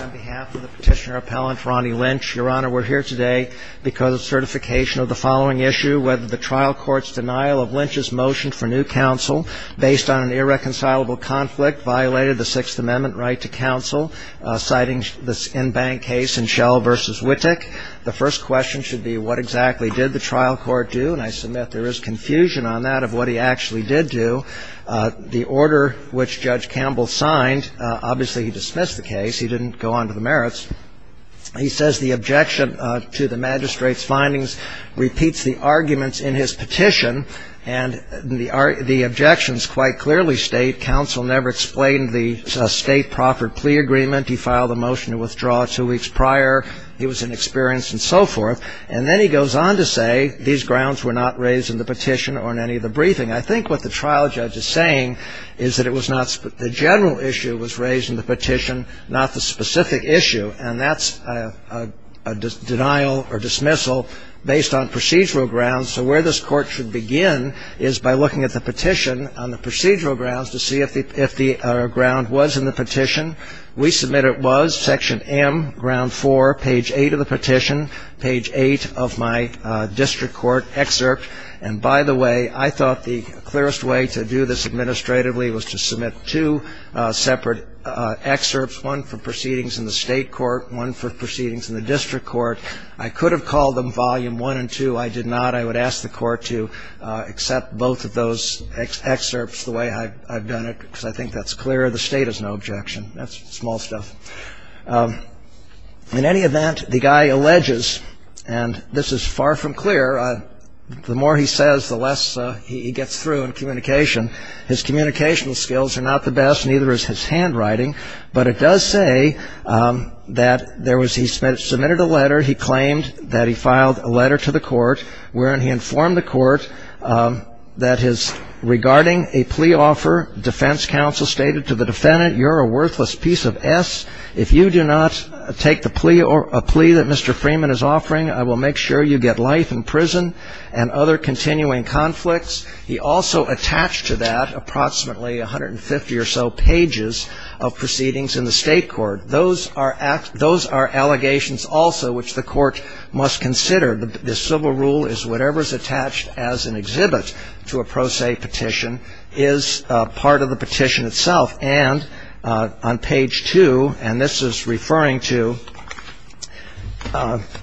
on behalf of the petitioner appellant, Ronnie Lynch. Your Honor, we're here today because of certification of the following issue. Whether the trial court's denial of Lynch's motion for new counsel based on an irreconcilable conflict violated the Sixth Amendment right to counsel, citing this in-bank case in Shell v. Wittek, the first question should be what exactly did the trial court do? And I submit there is confusion on that of what he actually did do. The order which Judge Campbell signed, obviously he dismissed the case. He didn't go on to the merits. He says the objection to the magistrate's findings repeats the arguments in his petition, and the objections quite clearly state counsel never explained the state proffered plea agreement. He filed a motion to withdraw two weeks prior. He was inexperienced and so forth. And then he goes on to say these grounds were not raised in the petition or in any of the briefing. I think what the trial judge is saying is that it was not the general issue was raised in the petition, not the specific issue. And that's a denial or dismissal based on procedural grounds. So where this court should begin is by looking at the petition on the procedural grounds to see if the ground was in the petition. We submit it was, Section M, Ground 4, page 8 of the petition, page 8 of my district court excerpt. And by the way, I thought the clearest way to do this administratively was to submit two separate excerpts, one for proceedings in the state court, one for proceedings in the district court. I could have called them Volume 1 and 2. I did not. I would ask the court to accept both of those excerpts the way I've done it because I think that's clearer. The state has no objection. That's small stuff. In any event, the guy alleges, and this is far from clear. The more he says, the less he gets through in communication. His communication skills are not the best, neither is his handwriting. But it does say that there was he submitted a letter. He claimed that he filed a letter to the court wherein he informed the court that his regarding a plea offer, defense counsel stated to the defendant, you're a worthless piece of S. If you do not take the plea or a plea that Mr. Freeman is offering, I will make sure you get life in prison and other continuing conflicts. He also attached to that approximately 150 or so pages of proceedings in the state court. Those are allegations also which the court must consider. The civil rule is whatever is attached as an exhibit to a pro se petition is part of the petition itself. And on page 2, and this is referring to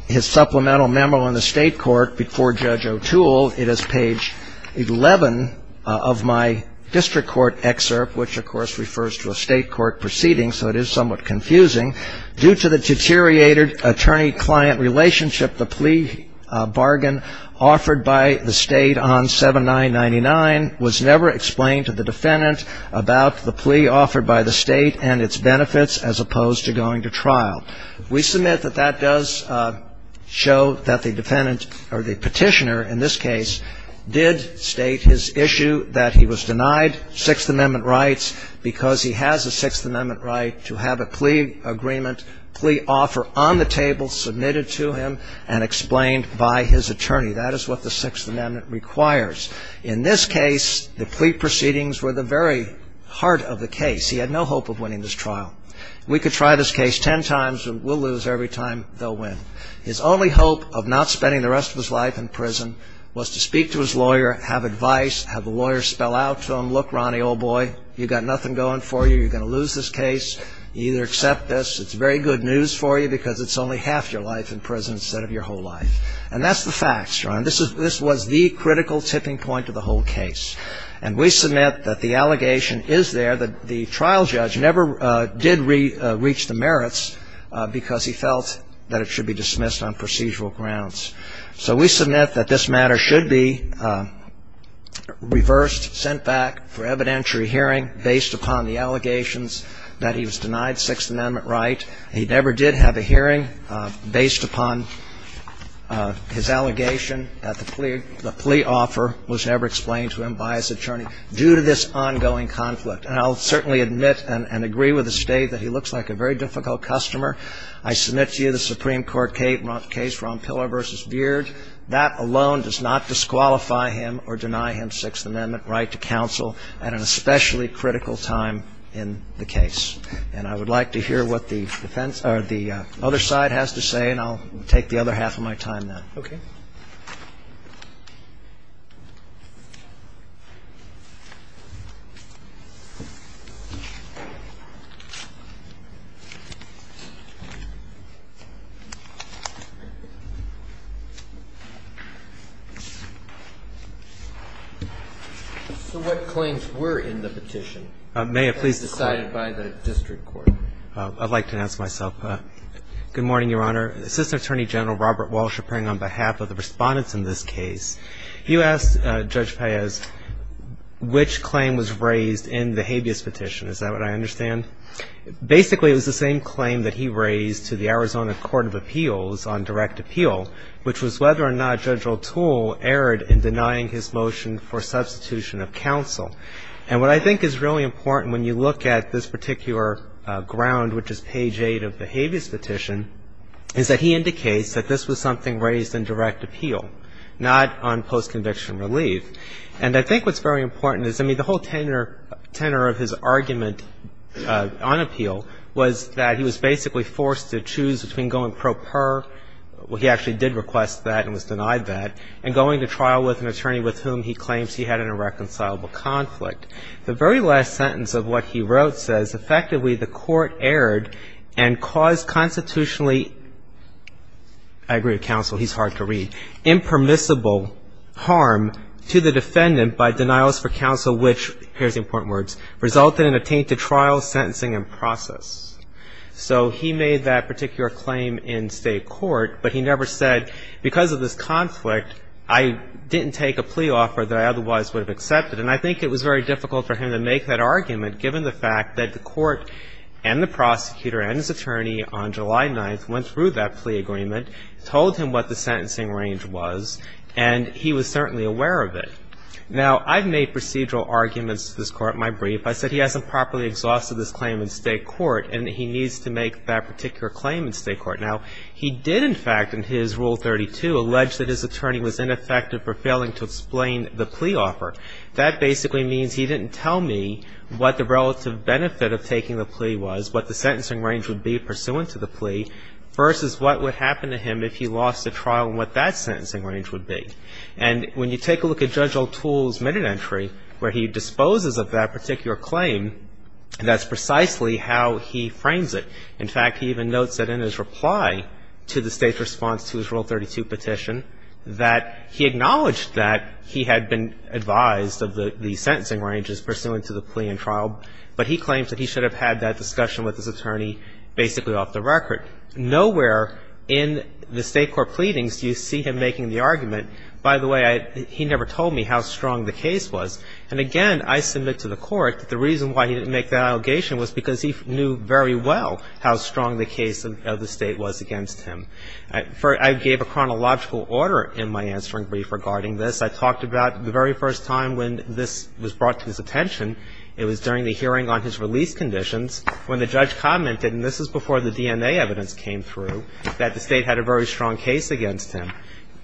his supplemental memo in the state court before Judge O'Toole. It is page 11 of my district court excerpt, which of course refers to a state court proceeding. So it is somewhat confusing. Due to the deteriorated attorney-client relationship, the plea bargain offered by the state on 7999 was never explained to the defendant about the plea offered by the state and its benefits as opposed to going to trial. We submit that that does show that the petitioner in this case did state his issue, that he was denied Sixth Amendment rights because he has a Sixth Amendment right to have a plea agreement, plea offer on the table submitted to him and explained by his attorney. That is what the Sixth Amendment requires. In this case, the plea proceedings were the very heart of the case. He had no hope of winning this trial. We could try this case ten times and we'll lose every time they'll win. His only hope of not spending the rest of his life in prison was to speak to his lawyer, have advice, have the lawyer spell out to him, look, Ronnie, old boy, you've got nothing going for you. You're going to lose this case. You either accept this. It's very good news for you because it's only half your life in prison instead of your whole life. And that's the facts. This was the critical tipping point of the whole case. And we submit that the allegation is there that the trial judge never did reach the merits because he felt that it should be dismissed on procedural grounds. So we submit that this matter should be reversed, sent back for evidentiary hearing based upon the allegations that he was denied Sixth Amendment right. He never did have a hearing based upon his allegation that the plea offer was never explained to him by his attorney due to this ongoing conflict. And I'll certainly admit and agree with the State that he looks like a very difficult customer. I submit to you the Supreme Court case Ron Pillar v. Beard. That alone does not disqualify him or deny him Sixth Amendment right to counsel at an especially critical time in the case. And I would like to hear what the defense or the other side has to say, and I'll take the other half of my time then. Okay. So what claims were in the petition? May I please? Decided by the district court. I'd like to announce myself. Good morning, Your Honor. Assistant Attorney General Robert Walsh appearing on behalf of the respondents in this case. You asked Judge Paez which claim was raised in the habeas petition. Is that what I understand? Basically, it was the same claim that he raised to the Arizona Court of Appeals on direct appeal, which was whether or not Judge O'Toole erred in denying his motion for substitution of counsel. And what I think is really important when you look at this particular ground, which is page 8 of the habeas petition, is that he indicates that this was something raised in direct appeal, not on post-conviction relief. And I think what's very important is, I mean, the whole tenor of his argument on appeal was that he was basically forced to choose between going pro per, where he actually did request that and was denied that, and going to trial with an attorney with whom he claims he had an irreconcilable conflict. The very last sentence of what he wrote says, effectively the court erred and caused constitutionally, I agree with counsel, he's hard to read, impermissible harm to the defendant by denials for counsel which, here's the important words, resulted in a tainted trial, sentencing, and process. So he made that particular claim in state court, but he never said, because of this conflict, I didn't take a plea offer that I otherwise would have accepted. And I think it was very difficult for him to make that argument, given the fact that the court and the prosecutor and his attorney on July 9th went through that plea agreement, told him what the sentencing range was, and he was certainly aware of it. Now, I've made procedural arguments to this Court in my brief. I said he hasn't properly exhausted this claim in state court and that he needs to make that particular claim in state court. Now, he did, in fact, in his Rule 32, allege that his attorney was ineffective for failing to explain the plea offer. That basically means he didn't tell me what the relative benefit of taking the plea was, what the sentencing range would be pursuant to the plea, versus what would happen to him if he lost the trial and what that sentencing range would be. And when you take a look at Judge O'Toole's minute entry, where he disposes of that particular claim, that's precisely how he frames it. In fact, he even notes that in his reply to the State's response to his Rule 32 petition that he acknowledged that he had been advised of the sentencing ranges pursuant to the plea and trial, but he claims that he should have had that discussion with his attorney basically off the record. Nowhere in the state court pleadings do you see him making the argument, by the way, he never told me how strong the case was. And again, I submit to the Court that the reason why he didn't make that allegation was because he knew very well how strong the case of the State was against him. I gave a chronological order in my answering brief regarding this. I talked about the very first time when this was brought to his attention, it was during the hearing on his release conditions, when the judge commented, and this is before the DNA evidence came through, that the State had a very strong case against him.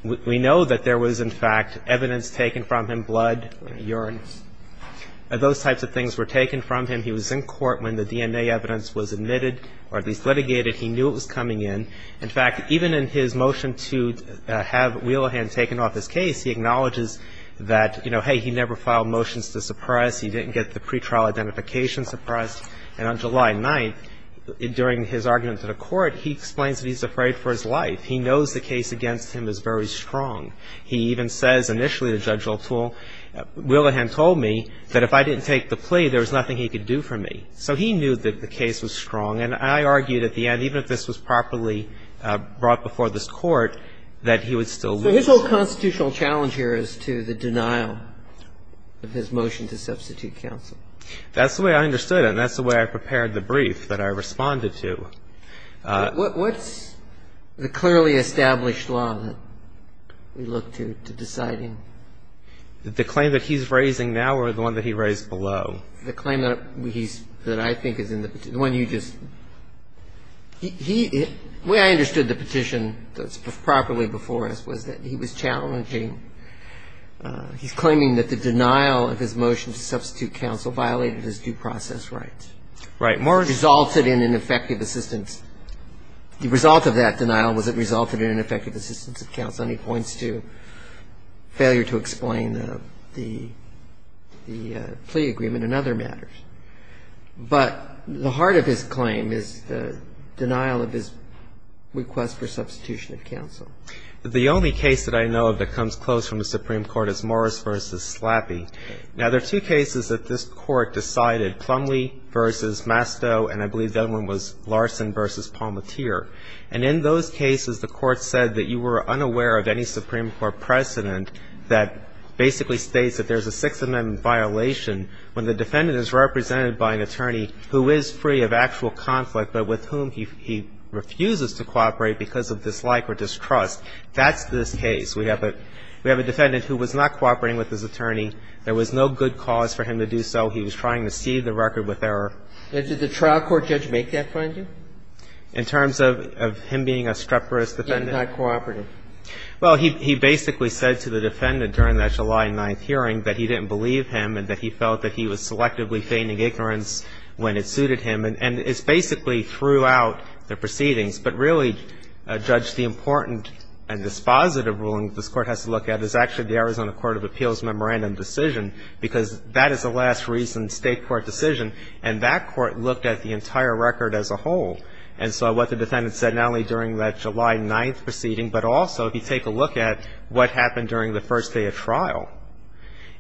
We know that there was, in fact, evidence taken from him, blood, urine. Those types of things were taken from him. He was in court when the DNA evidence was admitted, or at least litigated. He knew it was coming in. In fact, even in his motion to have Wheelahan taken off his case, he acknowledges that, you know, hey, he never filed motions to suppress. He didn't get the pretrial identification suppressed. And on July 9th, during his argument to the Court, he explains that he's afraid for his life. He knows the case against him is very strong. He even says initially to Judge O'Toole, Wheelahan told me that if I didn't take the plea, there was nothing he could do for me. So he knew that the case was strong. And I argued at the end, even if this was properly brought before this Court, that he would still lose. So his whole constitutional challenge here is to the denial of his motion to substitute counsel. That's the way I understood it, and that's the way I prepared the brief that I responded to. So what's the clearly established law that we look to to decide him? The claim that he's raising now or the one that he raised below? The claim that he's – that I think is in the petition. The one you just – he – the way I understood the petition that's properly before us was that he was challenging – he's claiming that the denial of his motion to substitute counsel violated his due process rights. Right. Morris resulted in an effective assistance. The result of that denial was it resulted in an effective assistance of counsel. And he points to failure to explain the plea agreement and other matters. But the heart of his claim is the denial of his request for substitution of counsel. The only case that I know of that comes close from the Supreme Court is Morris v. Slappy. Now, there are two cases that this Court decided, Plumlee v. Masto, and I believe the other one was Larson v. Palmatier. And in those cases, the Court said that you were unaware of any Supreme Court precedent that basically states that there's a Sixth Amendment violation when the defendant is represented by an attorney who is free of actual conflict but with whom he refuses to cooperate because of dislike or distrust. That's this case. We have a defendant who was not cooperating with his attorney. There was no good cause for him to do so. He was trying to see the record with error. And did the trial court judge make that finding? In terms of him being a streperous defendant? He did not cooperate. Well, he basically said to the defendant during that July 9th hearing that he didn't believe him and that he felt that he was selectively feigning ignorance when it suited him. And it's basically throughout the proceedings. But really, Judge, the important and dispositive ruling that this Court has to look at is actually the Arizona Court of Appeals Memorandum decision because that is the last recent State court decision, and that court looked at the entire record as a whole. And so what the defendant said not only during that July 9th proceeding, but also if you take a look at what happened during the first day of trial,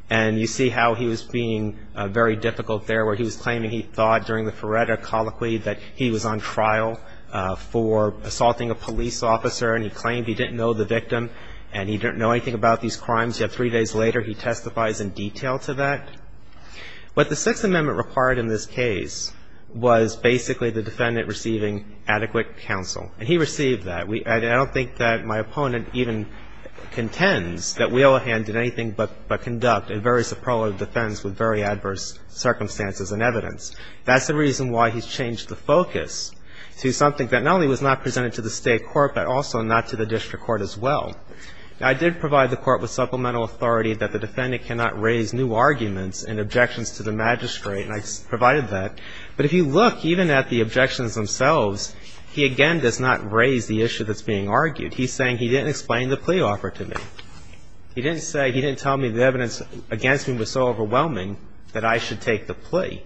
and you see how he was being very difficult there where he was claiming he thought during the Feretta colloquy that he was on trial for assaulting a police officer and he claimed he didn't know the victim and he didn't know anything about these crimes. Yet three days later he testifies in detail to that. What the Sixth Amendment required in this case was basically the defendant receiving adequate counsel. And he received that. I don't think that my opponent even contends that Wheelerhan did anything but conduct a very superlative defense with very adverse circumstances and evidence. That's the reason why he's changed the focus to something that not only was not presented to the State court but also not to the district court as well. I did provide the court with supplemental authority that the defendant cannot raise new arguments and objections to the magistrate, and I provided that. But if you look even at the objections themselves, he again does not raise the issue that's being argued. He's saying he didn't explain the plea offer to me. He didn't say he didn't tell me the evidence against me was so overwhelming that I should take the plea.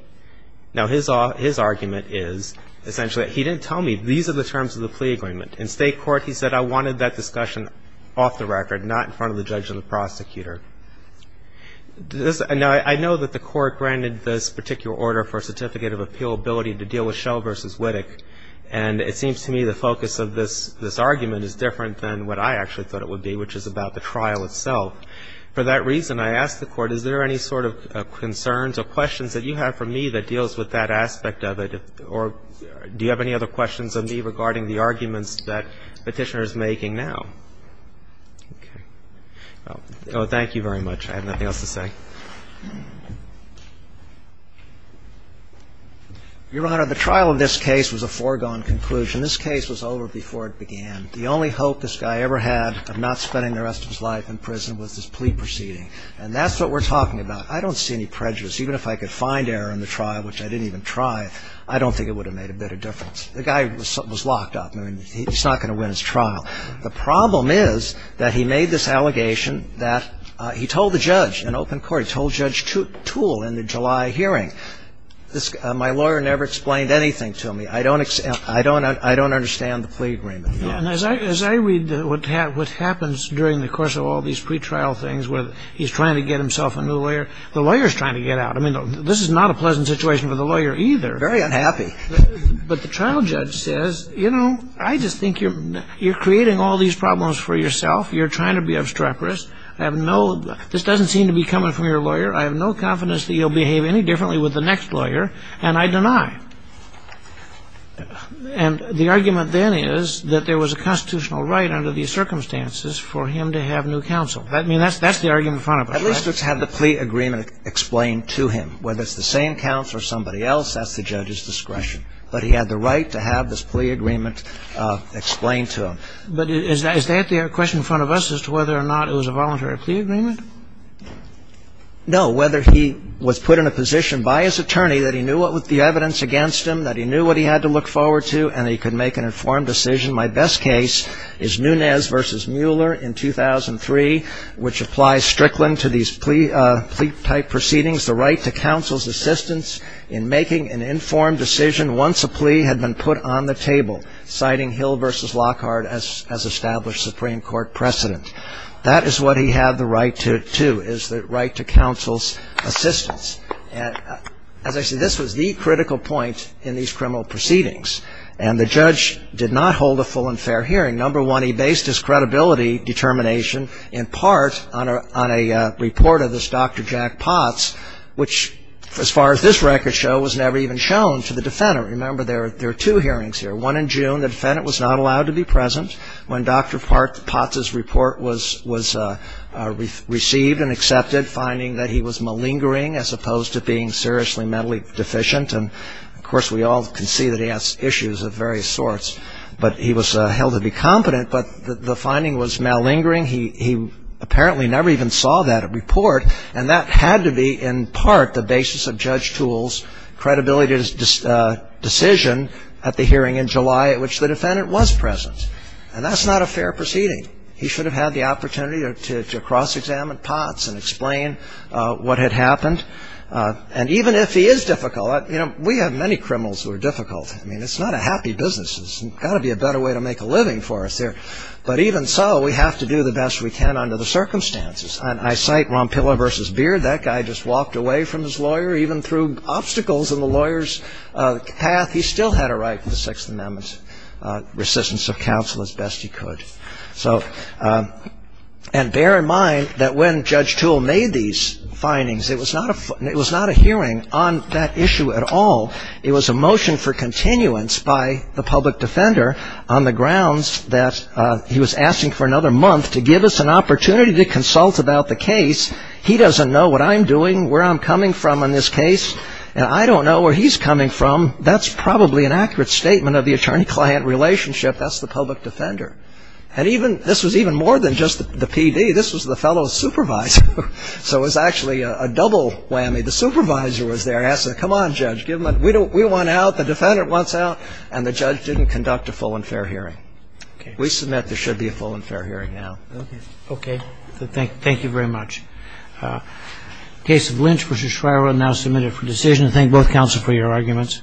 Now, his argument is essentially he didn't tell me these are the terms of the plea agreement. In State court he said I wanted that discussion off the record, not in front of the judge and the prosecutor. Now, I know that the court granted this particular order for a certificate of appealability to deal with Schell v. Wittig. And it seems to me the focus of this argument is different than what I actually thought it would be, which is about the trial itself. For that reason, I ask the Court, is there any sort of concerns or questions that you have for me that deals with that aspect of it, or do you have any other questions on me regarding the arguments that Petitioner is making now? Okay. Well, thank you very much. I have nothing else to say. Your Honor, the trial of this case was a foregone conclusion. This case was over before it began. The only hope this guy ever had of not spending the rest of his life in prison was this plea proceeding. And that's what we're talking about. I don't see any prejudice. Even if I could find error in the trial, which I didn't even try, I don't think it would have made a bit of difference. The guy was locked up. I mean, he's not going to win his trial. The problem is that he made this allegation that he told the judge in open court, he told Judge Toole in the July hearing, my lawyer never explained anything to me. I don't understand the plea agreement. And as I read what happens during the course of all these pretrial things where he's trying to get himself a new lawyer, the lawyer's trying to get out. I mean, this is not a pleasant situation for the lawyer either. Very unhappy. But the trial judge says, you know, I just think you're creating all these problems for yourself. You're trying to be obstreperous. I have no – this doesn't seem to be coming from your lawyer. I have no confidence that you'll behave any differently with the next lawyer, and I deny. And the argument then is that there was a constitutional right under these circumstances for him to have new counsel. I mean, that's the argument in front of us, right? At least it's had the plea agreement explained to him. Whether it's the same counsel or somebody else, that's the judge's discretion. But he had the right to have this plea agreement explained to him. But is that the question in front of us as to whether or not it was a voluntary plea agreement? No. Whether he was put in a position by his attorney that he knew the evidence against him, that he knew what he had to look forward to, and he could make an informed decision. My best case is Nunes v. Mueller in 2003, which applies strictly to these plea-type proceedings, the right to counsel's assistance in making an informed decision once a plea had been put on the table, citing Hill v. Lockhart as established Supreme Court precedent. That is what he had the right to, too, is the right to counsel's assistance. As I said, this was the critical point in these criminal proceedings. And the judge did not hold a full and fair hearing. Number one, he based his credibility determination in part on a report of this Dr. Jack Potts, which as far as this record shows was never even shown to the defendant. Remember, there are two hearings here. One in June, the defendant was not allowed to be present when Dr. Potts' report was received and accepted, finding that he was malingering as opposed to being seriously mentally deficient. And, of course, we all can see that he has issues of various sorts. But he was held to be competent. But the finding was malingering. He apparently never even saw that report. And that had to be in part the basis of Judge Toole's credibility decision at the hearing in July at which the defendant was present. And that's not a fair proceeding. He should have had the opportunity to cross-examine Potts and explain what had happened. And even if he is difficult, you know, we have many criminals who are difficult. I mean, it's not a happy business. There's got to be a better way to make a living for us here. But even so, we have to do the best we can under the circumstances. And I cite Rompilla v. Beard. That guy just walked away from his lawyer even through obstacles in the lawyer's path. He still had a right to the Sixth Amendment, resistance of counsel as best he could. And bear in mind that when Judge Toole made these findings, it was not a hearing on that issue at all. It was a motion for continuance by the public defender on the grounds that he was asking for another month to give us an opportunity to consult about the case. He doesn't know what I'm doing, where I'm coming from on this case, and I don't know where he's coming from. That's probably an accurate statement of the attorney-client relationship. That's the public defender. And this was even more than just the PD. This was the fellow supervisor. So it was actually a double whammy. The supervisor was there asking, come on, Judge, we want out, the defendant wants out. And the judge didn't conduct a full and fair hearing. We submit there should be a full and fair hearing now. Okay. Thank you very much. The case of Lynch v. Shriver now submitted for decision. I thank both counsel for your arguments.